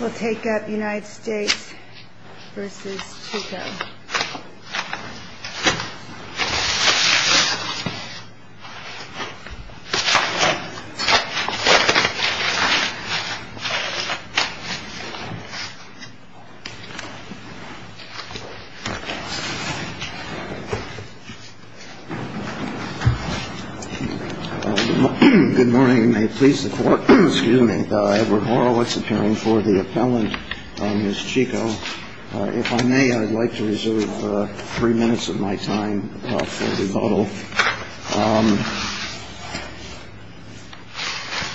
We'll take up United States v. Chico. Good morning and may it please the court, excuse me, Edward Horowitz appearing for the three minutes of my time for rebuttal.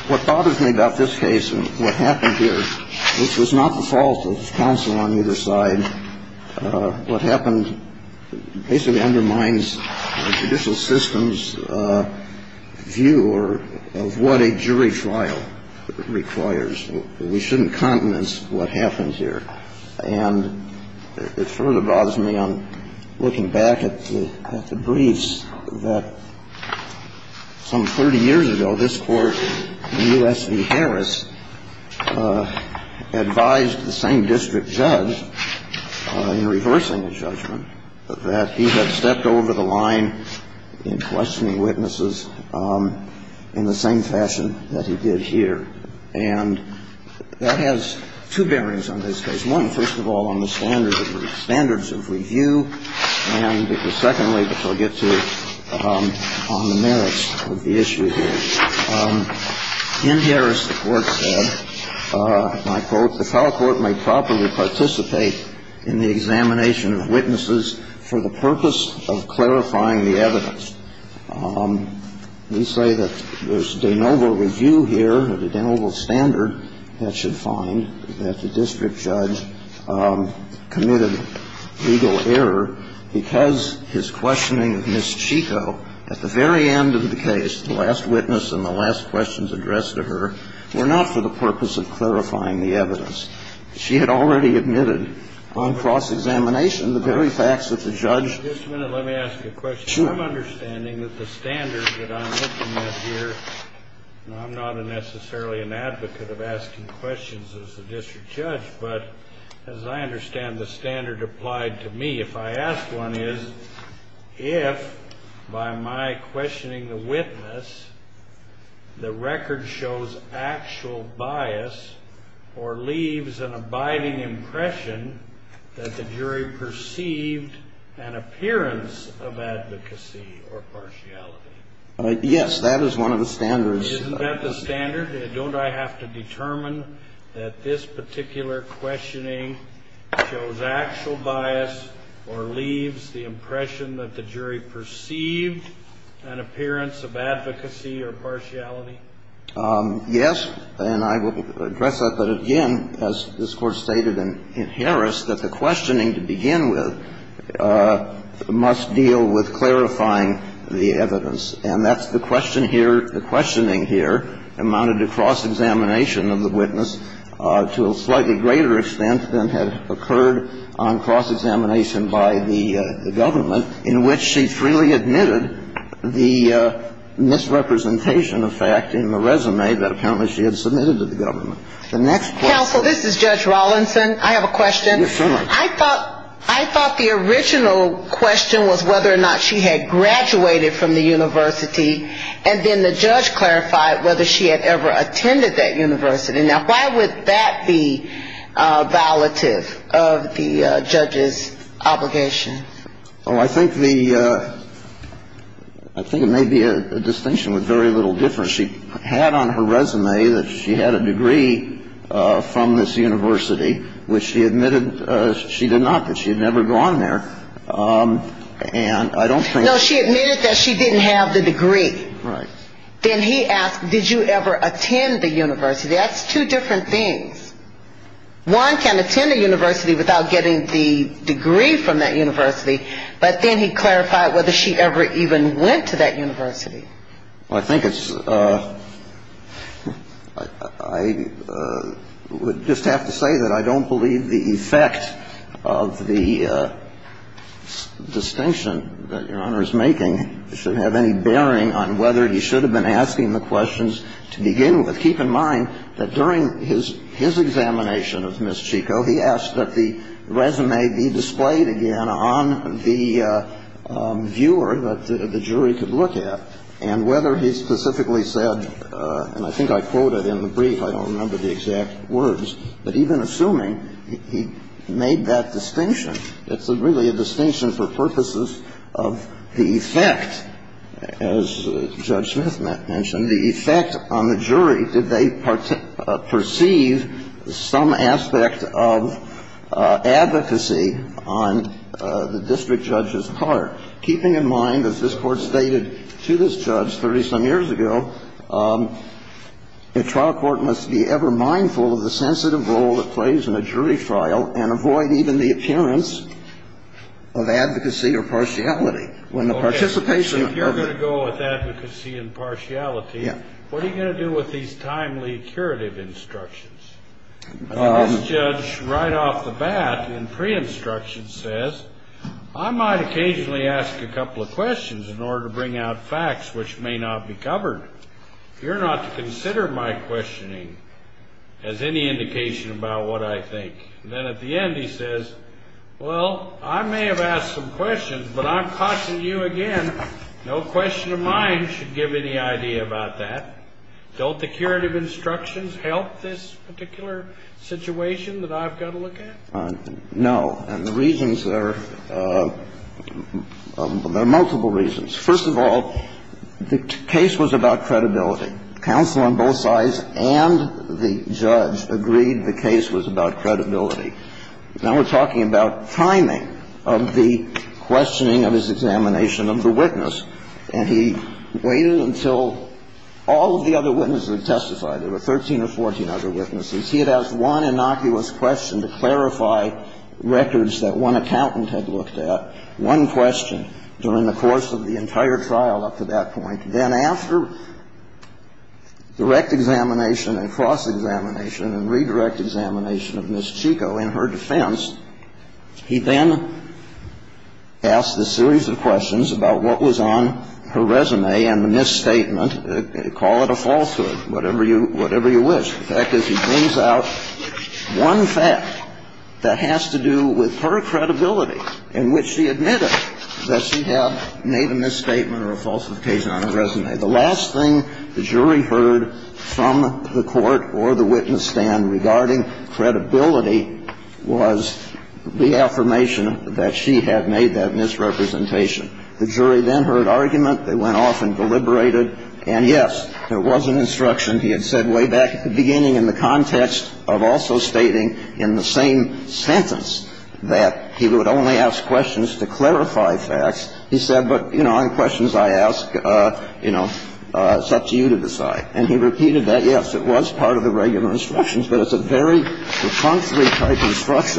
What bothers me about this case and what happened here, which was not the fault of counsel on either side, what happened basically undermines the judicial system's view of what a jury trial requires. We shouldn't countenance what happened here. And it further bothers me on looking back at the briefs that some 30 years ago, this Court in U.S. v. Harris advised the same district judge in reversing a judgment that he had stepped over the line in questioning witnesses in the same fashion that he did here. And that has two bearings on this case, one, first of all, on the standards of review, and secondly, which I'll get to on the merits of the issue here. In Harris, the Court said, and I quote, the trial court may properly participate in the examination of witnesses for the purpose of clarifying the evidence. We say that there's de novo review here or the de novo standard that should find that the district judge committed legal error because his questioning of Ms. Chico at the very end of the case, the last witness and the last questions addressed to her, were not for the purpose of clarifying the evidence. She had already admitted on cross-examination the very facts of the judge. Just a minute, let me ask you a question. I'm understanding that the standard that I'm looking at here, and I'm not necessarily an advocate of asking questions as a district judge, but as I understand the standard applied to me, if I ask one is, if by my questioning the witness, the record shows actual bias or leaves an abiding impression that the jury perceived an appearance of advocacy or partiality? Yes, that is one of the standards. Isn't that the standard? Don't I have to determine that this particular questioning shows actual bias or leaves the impression that the jury perceived an appearance of advocacy or partiality? Yes, and I will address that. But again, as this Court stated in Harris, that the questioning to begin with must deal with clarifying the evidence. And that's the question here, the questioning here amounted to cross-examination of the witness to a slightly greater extent than had occurred on cross-examination by the government, in which she freely admitted the misrepresentation of fact in the resume that apparently she had submitted to the government. Counsel, this is Judge Rawlinson. I have a question. Yes, ma'am. I thought the original question was whether or not she had graduated from the university, and then the judge clarified whether she had ever attended that university. Now, why would that be violative of the judge's obligation? Well, I think the ‑‑ I think it may be a distinction with very little difference. She had on her resume that she had a degree from this university, which she admitted she did not, that she had never gone there. And I don't think ‑‑ No, she admitted that she didn't have the degree. Right. Then he asked, did you ever attend the university? That's two different things. One can attend a university without getting the degree from that university, but then he clarified whether she ever even went to that university. Well, I think it's ‑‑ I would just have to say that I don't believe the effect of the distinction that Your Honor's making should have any bearing on whether he should have been asking the questions to begin with. Keep in mind that during his examination of Ms. Chico, he asked that the resume be displayed again on the viewer that the jury could look at, and whether he specifically said, and I think I quoted in the brief, I don't remember the exact words, but even assuming he made that distinction. It's really a distinction for purposes of the effect, as Judge Smith mentioned, the effect on the jury, did they perceive some aspect of advocacy on the district judge's part, keeping in mind that this Court stated to this judge 30‑some years ago, a trial court must be ever mindful of the sensitive role it plays in a jury trial and avoid even the appearance of advocacy or partiality. Okay, so if you're going to go with advocacy and partiality, what are you going to do with these timely curative instructions? This judge right off the bat in pre-instruction says, I might occasionally ask a couple of questions in order to bring out facts which may not be covered. You're not to consider my questioning as any indication about what I think. And then at the end, he says, well, I may have asked some questions, but I'm cautioning you again, no question of mine should give any idea about that. Don't the curative instructions help this particular situation that I've got to look at? No. And the reasons are, there are multiple reasons. First of all, the case was about credibility. Counsel on both sides and the judge agreed the case was about credibility. Now we're talking about timing of the questioning of his examination of the witness. And he waited until all of the other witnesses testified. There were 13 or 14 other witnesses. He had asked one innocuous question to clarify records that one accountant had looked at, one question during the course of the entire trial up to that point. Then after direct examination and cross-examination and redirect examination of Ms. Chico in her defense, he then asked a series of questions about what was on her resume and the misstatement. Call it a falsehood, whatever you wish. The fact is he brings out one fact that has to do with her credibility, in which she admitted that she had made a misstatement or a falsification on her resume. The last thing the jury heard from the court or the witness stand regarding credibility was the affirmation that she had made that misrepresentation. The jury then heard argument. They went off and deliberated. And, yes, there was an instruction. He had said way back at the beginning in the context of also stating in the same sentence that he would only ask questions to clarify facts. He said, but, you know, on questions I ask, you know, it's up to you to decide. And he repeated that, yes, it was part of the regular instructions, but it's a very different case. And it's a very different case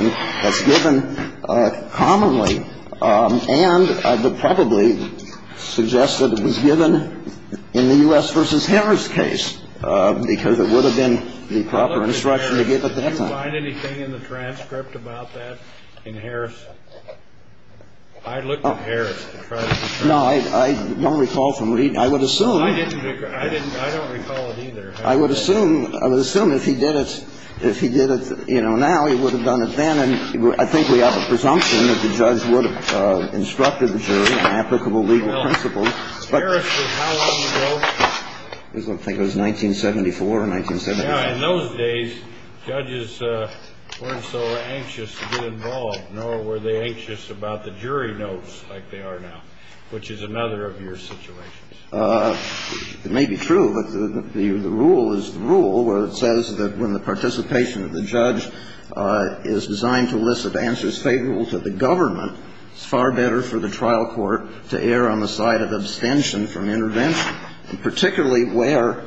in the U.S. v. Harris case, because it would have been the proper instruction to give at that time. Kennedy, did you find anything in the transcript about that in Harris? I looked at Harris to try to discern. No, I don't recall from reading. I would assume. I don't recall it either. I would assume, I would assume if he did it, if he did it, you know, now, he would have done it then. I think we have a presumption that the judge would have instructed the jury on applicable legal principles. Harris, how long ago? I think it was 1974 or 1975. In those days, judges weren't so anxious to get involved, nor were they anxious about the jury notes like they are now, which is another of your situations. It may be true, but the rule is the rule where it says that when the participation of the judge is designed to elicit answers favorable to the government, it's far better for the trial court to err on the side of abstention from intervention, and particularly where,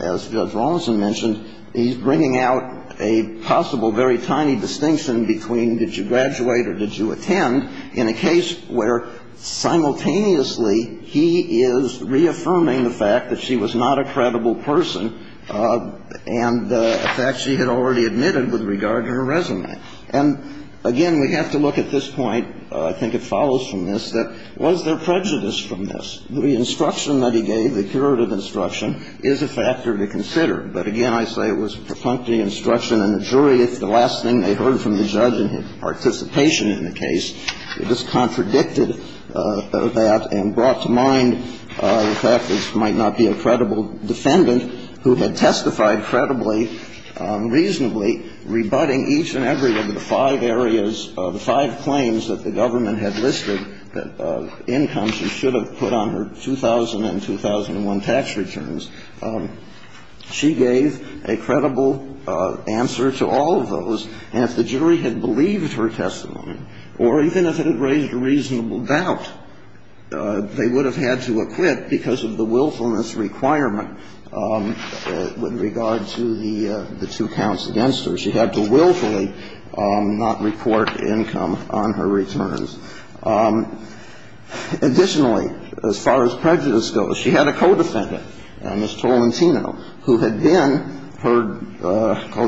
as Judge Rawlinson mentioned, he's bringing out a possible very tiny distinction between did you graduate or did you attend in a case where simultaneously he is reaffirming the fact that she was not a credible person and the fact she had already admitted with regard to her resume. And, again, we have to look at this point. I think it follows from this that was there prejudice from this? The instruction that he gave, the curative instruction, is a factor to consider. But, again, I say it was propuncty instruction, and the jury, if the last thing they that and brought to mind the fact that she might not be a credible defendant who had testified credibly, reasonably, rebutting each and every one of the five areas, the five claims that the government had listed, the incomes she should have put on her 2000 and 2001 tax returns, she gave a credible answer to all of those. And if the jury had believed her testimony, or even if it had raised a reasonable doubt, they would have had to acquit because of the willfulness requirement with regard to the two counts against her. She had to willfully not report income on her returns. Additionally, as far as prejudice goes, she had a co-defendant, Ms. Tolentino, who had been her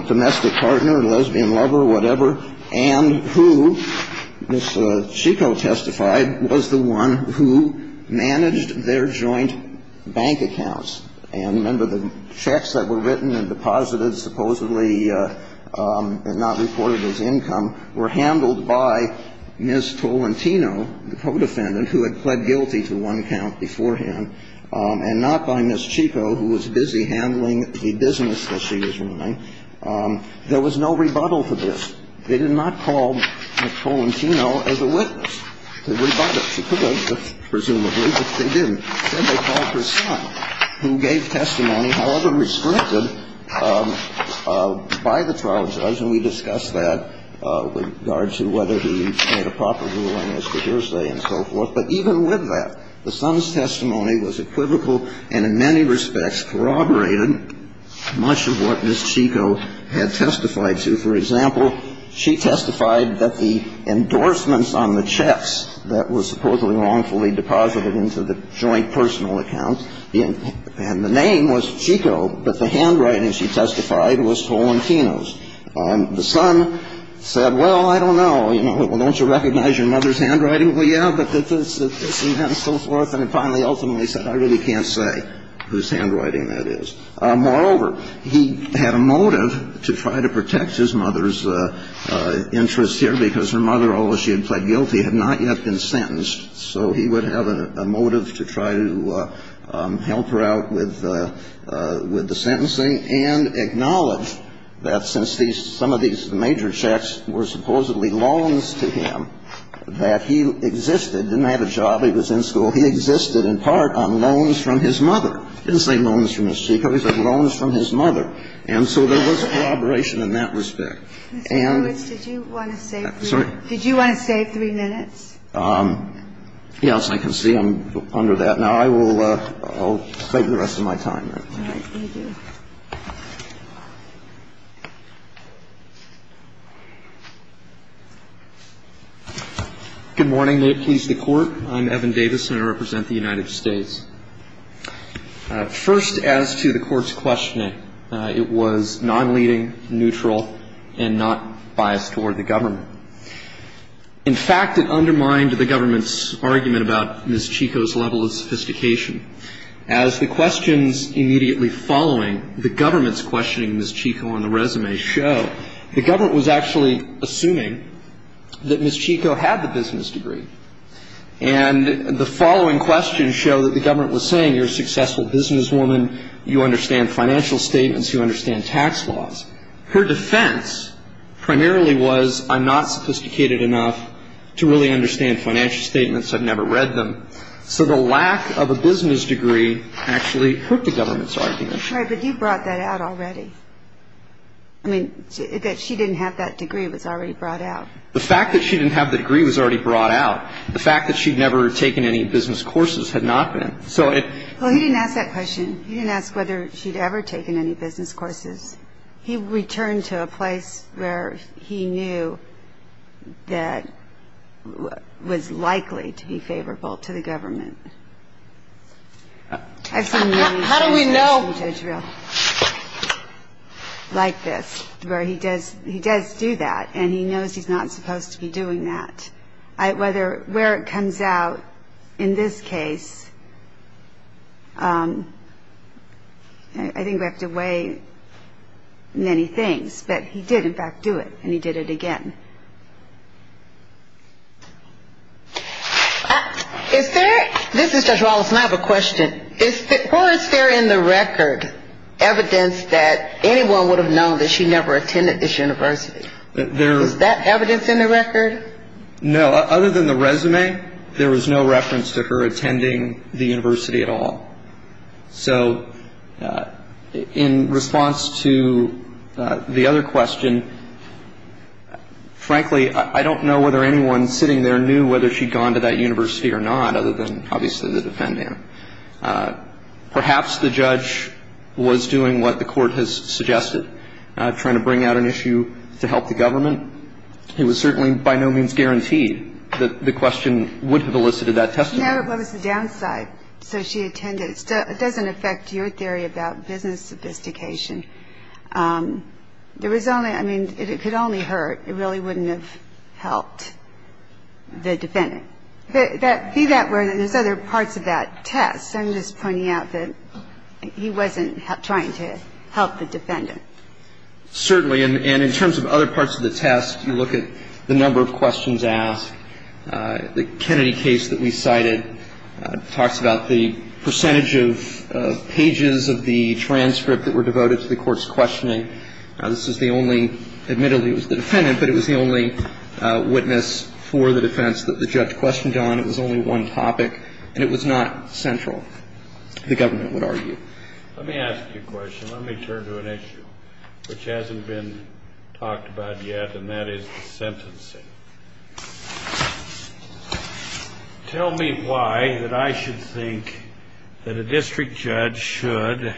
domestic partner, lesbian lover, whatever, and who, Ms. Chico testified, was the one who managed their joint bank accounts. And remember, the checks that were written and deposited supposedly and not reported as income were handled by Ms. Tolentino, the co-defendant, who had pled guilty to one count beforehand, and not by Ms. Chico, who was busy handling the business that she was running. There was no rebuttal to this. They did not call Ms. Tolentino as a witness. They rebutted. She could have, presumably, but they didn't. Instead, they called her son, who gave testimony, however restricted, by the trial judge. And we discussed that with regard to whether he made a proper ruling as to Thursday and so forth. But even with that, the son's testimony was equivocal and in many respects corroborated much of what Ms. Chico had testified to. For example, she testified that the endorsements on the checks that were supposedly wrongfully deposited into the joint personal account, and the name was Chico, but the handwriting, she testified, was Tolentino's. The son said, well, I don't know. Well, don't you recognize your mother's handwriting? Well, yeah, but this and that and so forth. And he finally ultimately said, I really can't say whose handwriting that is. Moreover, he had a motive to try to protect his mother's interests here, because her mother, although she had pled guilty, had not yet been sentenced. So he would have a motive to try to help her out with the sentencing and acknowledge that since these – some of these major checks were supposedly loans to him, that he existed – didn't have a job, he was in school – he existed in part on loans from his mother. He didn't say loans from Ms. Chico. He said loans from his mother. And so there was corroboration in that respect. And the – Ms. Lewis, did you want to save – I'm sorry. Did you want to save three minutes? Yes, I can see I'm under that. Now, I will save the rest of my time. All right. Thank you. Good morning. May it please the Court. I'm Evan Davis, and I represent the United States. First, as to the Court's questioning, it was nonleading, neutral, and not biased toward the government. In fact, it undermined the government's argument about Ms. Chico's level of sophistication. As the questions immediately following the government's questioning Ms. Chico on the resume show, the government was actually assuming that Ms. Chico had the business degree. And the following questions show that the government was saying, you're a successful businesswoman, you understand financial statements, you understand tax laws. Her defense primarily was, I'm not sophisticated enough to really understand financial statements, I've never read them. So the lack of a business degree actually hurt the government's argument. Right, but you brought that out already. I mean, that she didn't have that degree was already brought out. The fact that she didn't have the degree was already brought out. The fact that she'd never taken any business courses had not been. Well, he didn't ask that question. He didn't ask whether she'd ever taken any business courses. He returned to a place where he knew that was likely to be favorable to the government. How do we know? Like this, where he does do that, and he knows he's not supposed to be doing that. Where it comes out in this case, I think we have to weigh many things. But he did, in fact, do it, and he did it again. This is Judge Wallace, and I have a question. Or is there in the record evidence that anyone would have known that she never attended this university? Is that evidence in the record? No. Other than the resume, there was no reference to her attending the university at all. So in response to the other question, frankly, I don't know whether anyone sitting there knew whether she'd gone to that university or not, other than obviously the defendant. Perhaps the judge was doing what the Court has suggested, trying to bring out an issue to help the government. But I think the question is, if she attended, and she did attend, it was certainly by no means guaranteed that the question would have elicited that testimony. No, but what was the downside? So she attended. It doesn't affect your theory about business sophistication. There was only – I mean, it could only hurt. It really wouldn't have helped the defendant. But be that where there's other parts of that test. I'm just pointing out that he wasn't trying to help the defendant. Certainly. And in terms of other parts of the test, you look at the number of questions asked. The Kennedy case that we cited talks about the percentage of pages of the transcript that were devoted to the court's questioning. This is the only – admittedly, it was the defendant, but it was the only witness for the defense that the judge questioned on. It was only one topic. And it was not central, the government would argue. Let me ask you a question. Let me turn to an issue which hasn't been talked about yet, and that is the sentencing. Tell me why that I should think that a district judge should,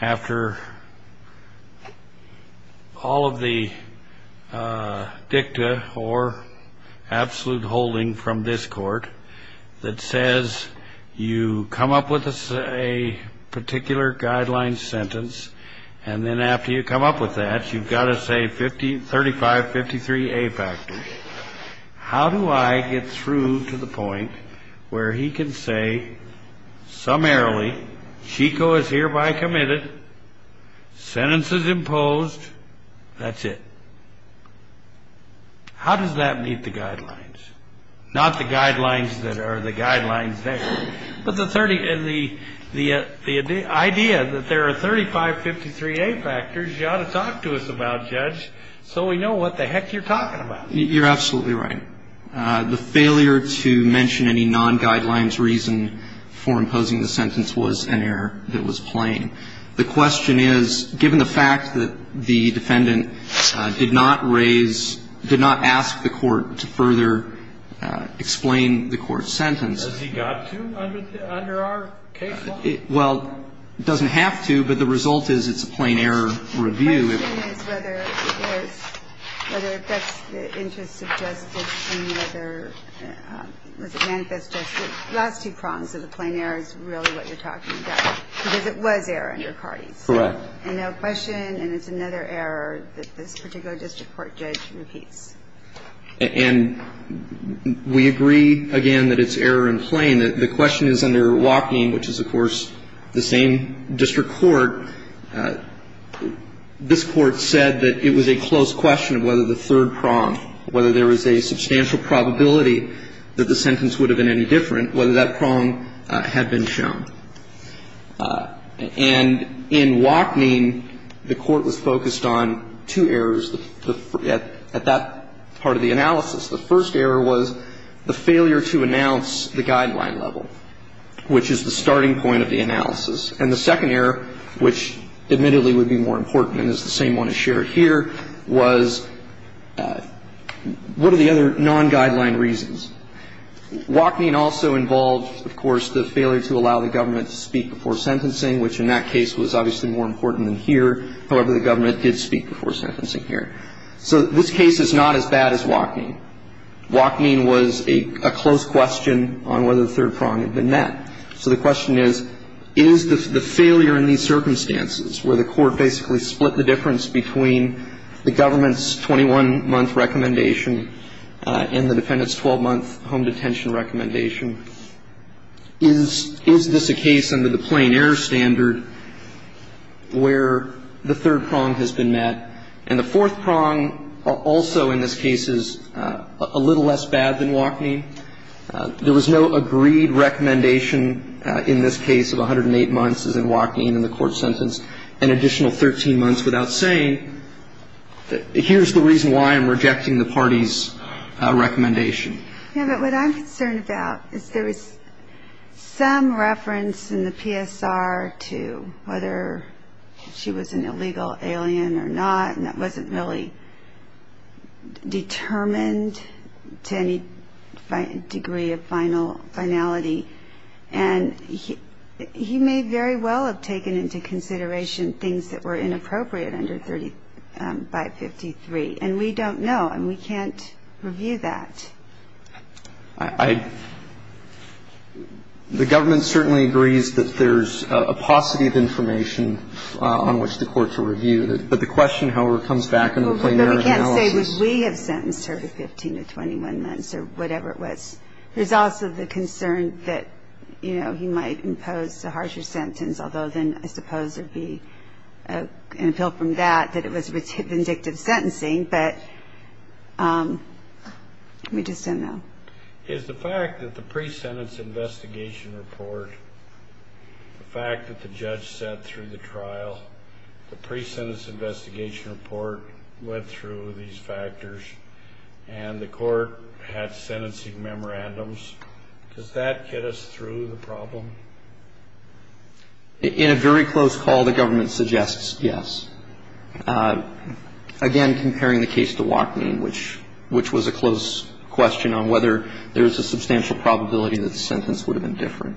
after all of the dicta or absolute holding from this court, that says you come up with a particular guideline sentence, and then after you come up with that, you've got to say 3553A factors. How do I get through to the point where he can say summarily, Chico is hereby committed, sentence is imposed, that's it? How does that meet the guidelines? Not the guidelines that are the guidelines there, but the idea that there are 3553A factors you ought to talk to us about, Judge, so we know what the heck you're talking about. You're absolutely right. The failure to mention any non-guidelines reason for imposing the sentence was an error that was plain. The question is, given the fact that the defendant did not raise – did not ask the court to further explain the court's sentence. Has he got to under our case law? Well, it doesn't have to, but the result is it's a plain error review. The question is whether it affects the interest of justice and whether it manifests justice. The last two prongs of the plain error is really what you're talking about, because it was error under Cardi's. Correct. And now question, and it's another error that this particular district court judge repeats. And we agree, again, that it's error in plain. The question is under Wachning, which is, of course, the same district court, this court said that it was a close question of whether the third prong, whether there was a substantial probability that the sentence would have been any different, whether that prong had been shown. And in Wachning, the court was focused on two errors at that part of the analysis. The first error was the failure to announce the guideline level, which is the starting point of the analysis. And the second error, which admittedly would be more important and is the same one as shared here, was what are the other non-guideline reasons? Wachning also involved, of course, the failure to allow the government to speak before sentencing, which in that case was obviously more important than here. However, the government did speak before sentencing here. So this case is not as bad as Wachning. Wachning was a close question on whether the third prong had been met. So the question is, is the failure in these circumstances, where the court basically split the difference between the government's 21-month recommendation and the defendant's 12-month home detention recommendation, is this a case under the plain error standard where the third prong has been met, and the fourth prong also in this case is a little less bad than Wachning? There was no agreed recommendation in this case of 108 months, as in Wachning in the court sentence, and additional 13 months without saying, here's the reason why I'm rejecting the party's recommendation. Yeah, but what I'm concerned about is there was some reference in the PSR to whether she was an illegal alien or not, and that wasn't really determined to any degree of finality. And he may very well have taken into consideration things that were inappropriate under 553. And we don't know, and we can't review that. I — the government certainly agrees that there's a paucity of information on which the court should review. But the question, however, comes back in the plain error analysis. But we can't say, would we have sentenced her to 15 to 21 months or whatever it was. There's also the concern that, you know, he might impose a harsher sentence, although then I suppose it would be an appeal from that that it was vindictive sentencing. But we just don't know. Is the fact that the pre-sentence investigation report, the fact that the judge sat through the trial, the pre-sentence investigation report went through these factors, and the court had sentencing memorandums, does that get us through the problem? In a very close call, the government suggests yes. Again, comparing the case to Wachmean, which was a close question on whether there was a substantial probability that the sentence would have been different.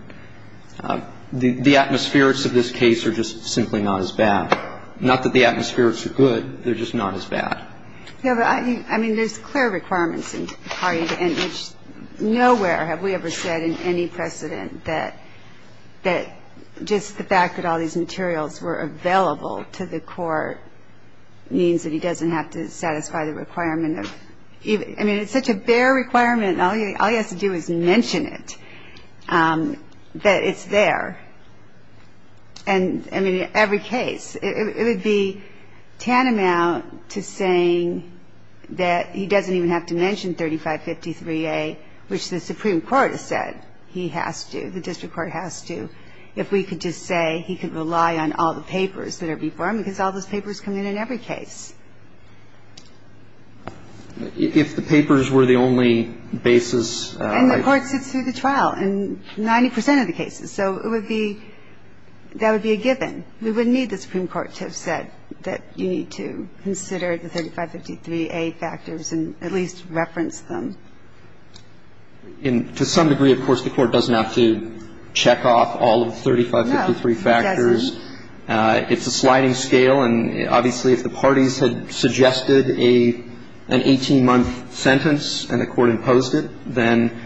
The atmospherics of this case are just simply not as bad. Not that the atmospherics are good. They're just not as bad. I mean, there's clear requirements in the party, and nowhere have we ever said in any precedent that just the fact that all these materials were available to the court means that he doesn't have to satisfy the requirement of even – I mean, it's such a bare requirement, and all he has to do is mention it, that it's there. And, I mean, in every case, it would be tantamount to saying that he doesn't even have to mention 3553A, which the Supreme Court has said he has to, the district court has to, if we could just say he could rely on all the papers that are before him, because all those papers come in in every case. If the papers were the only basis. And the court sits through the trial in 90 percent of the cases. So it would be – that would be a given. We wouldn't need the Supreme Court to have said that you need to consider the 3553A factors and at least reference them. And to some degree, of course, the court doesn't have to check off all of the 3553 factors. No, it doesn't. It's a sliding scale, and obviously if the parties had suggested an 18-month sentence and the court imposed it, then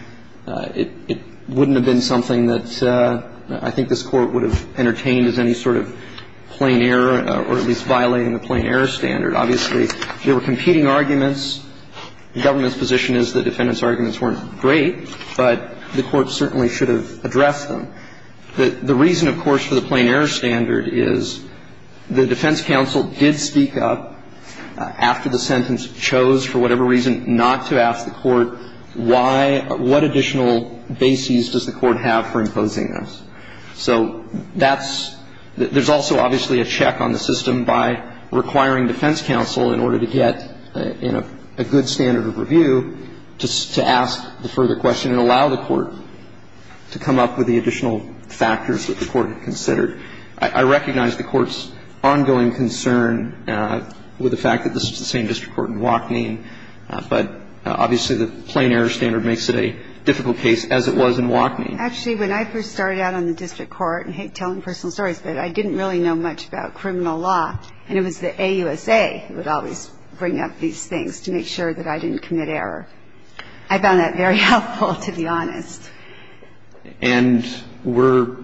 it wouldn't have been something that I think this Court would have entertained as any sort of plain error or at least violating the plain error standard. Obviously, there were competing arguments. The government's position is the defendant's arguments weren't great, but the court certainly should have addressed them. The reason, of course, for the plain error standard is the defense counsel did speak up after the sentence, chose for whatever reason not to ask the court why – what additional bases does the court have for imposing those. So that's – there's also obviously a check on the system by requiring defense counsel in order to get a good standard of review to ask the further question and allow the court to come up with the additional factors that the court had considered. I recognize the Court's ongoing concern with the fact that this is the same district court in Wachneen, but obviously the plain error standard makes it a difficult case, as it was in Wachneen. Actually, when I first started out on the district court – and I hate telling personal stories, but I didn't really know much about criminal law, and it was the AUSA who would always bring up these things to make sure that I didn't commit I found that very helpful, to be honest. And we're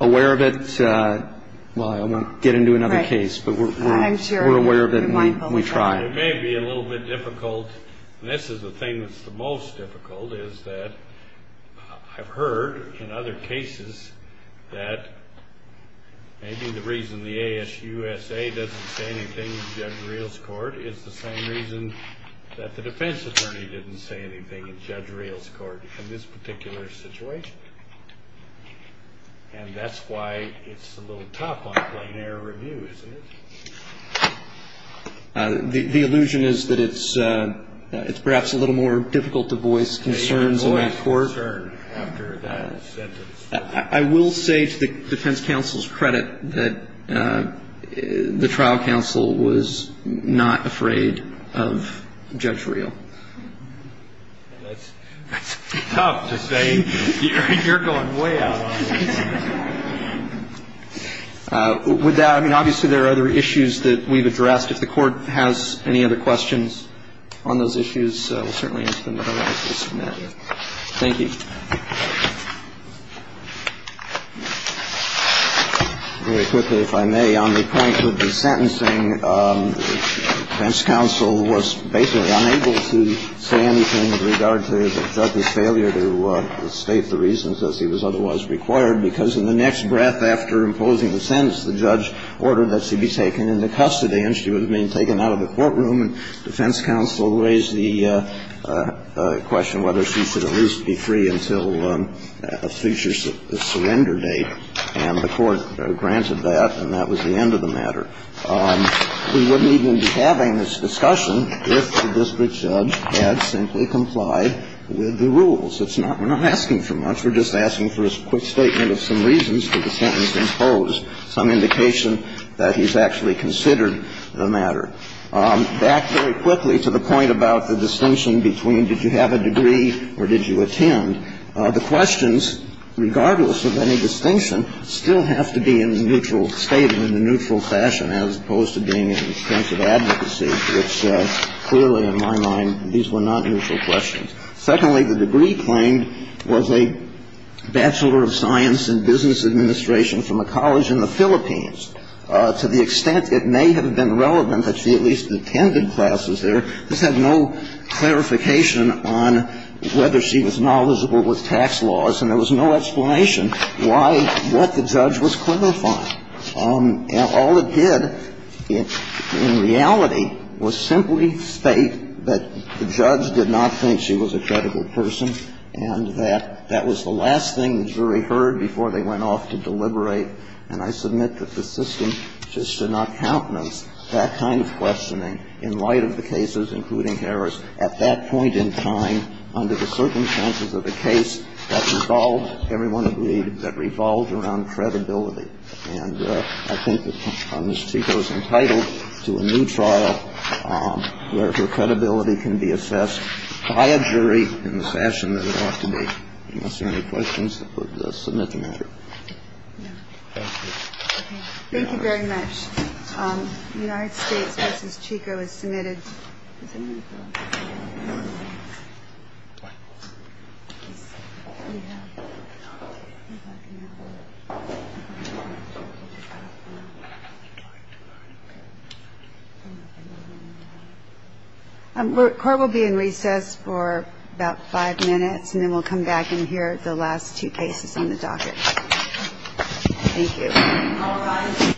aware of it – well, I want to get into another case, but we're aware of it and we try. It may be a little bit difficult, and this is the thing that's the most difficult, is that I've heard in other cases that maybe the reason the ASUSA doesn't say anything in Judge Real's court is the same reason that the defense attorney didn't say anything in Judge Real's court in this particular situation. And that's why it's a little tough on plain error review, isn't it? The illusion is that it's perhaps a little more difficult to voice concerns in that court. I will say to the defense counsel's credit that the trial counsel was not afraid of Judge Real. And that's tough to say. You're going way out on that. With that, I mean, obviously there are other issues that we've addressed. If the Court has any other questions on those issues, we'll certainly answer them otherwise. Thank you. Very quickly, if I may. On the point of the sentencing, defense counsel was basically unable to say anything with regard to the judge's failure to state the reasons, as he was otherwise required, because in the next breath after imposing the sentence, the judge ordered that she be taken into custody, and she was being taken out of the courtroom. And defense counsel raised the question whether she should at least be free until a future surrender date. And the Court granted that, and that was the end of the matter. We wouldn't even be having this discussion if the district judge had simply complied with the rules. It's not we're not asking for much. We're just asking for a quick statement of some reasons for the sentence to impose some indication that he's actually considered the matter. Back very quickly to the point about the distinction between did you have a degree or did you attend. The questions, regardless of any distinction, still have to be in a neutral state and in a neutral fashion, as opposed to being in a sense of advocacy, which clearly in my mind, these were not neutral questions. Secondly, the degree claimed was a bachelor of science in business administration from a college in the Philippines. To the extent it may have been relevant that she at least attended classes there, this had no clarification on whether she was knowledgeable with tax laws and there was no explanation why what the judge was clarifying. All it did in reality was simply state that the judge did not think she was a credible person and that that was the last thing the jury heard before they went off to deliberate. And I submit that the system just did not countenance that kind of questioning in light of the cases, including Harris, at that point in time under the circumstances of the case that revolved, everyone agreed, that revolved around credibility. And I think that Ms. Chico is entitled to a new trial where her credibility can be assessed by a jury in the fashion that it ought to be, unless there are any questions that would submit the matter. Thank you very much. United States. This is Chico is submitted. And we'll be in recess for about five minutes and then we'll come back and hear the last two cases on the docket. Thank you.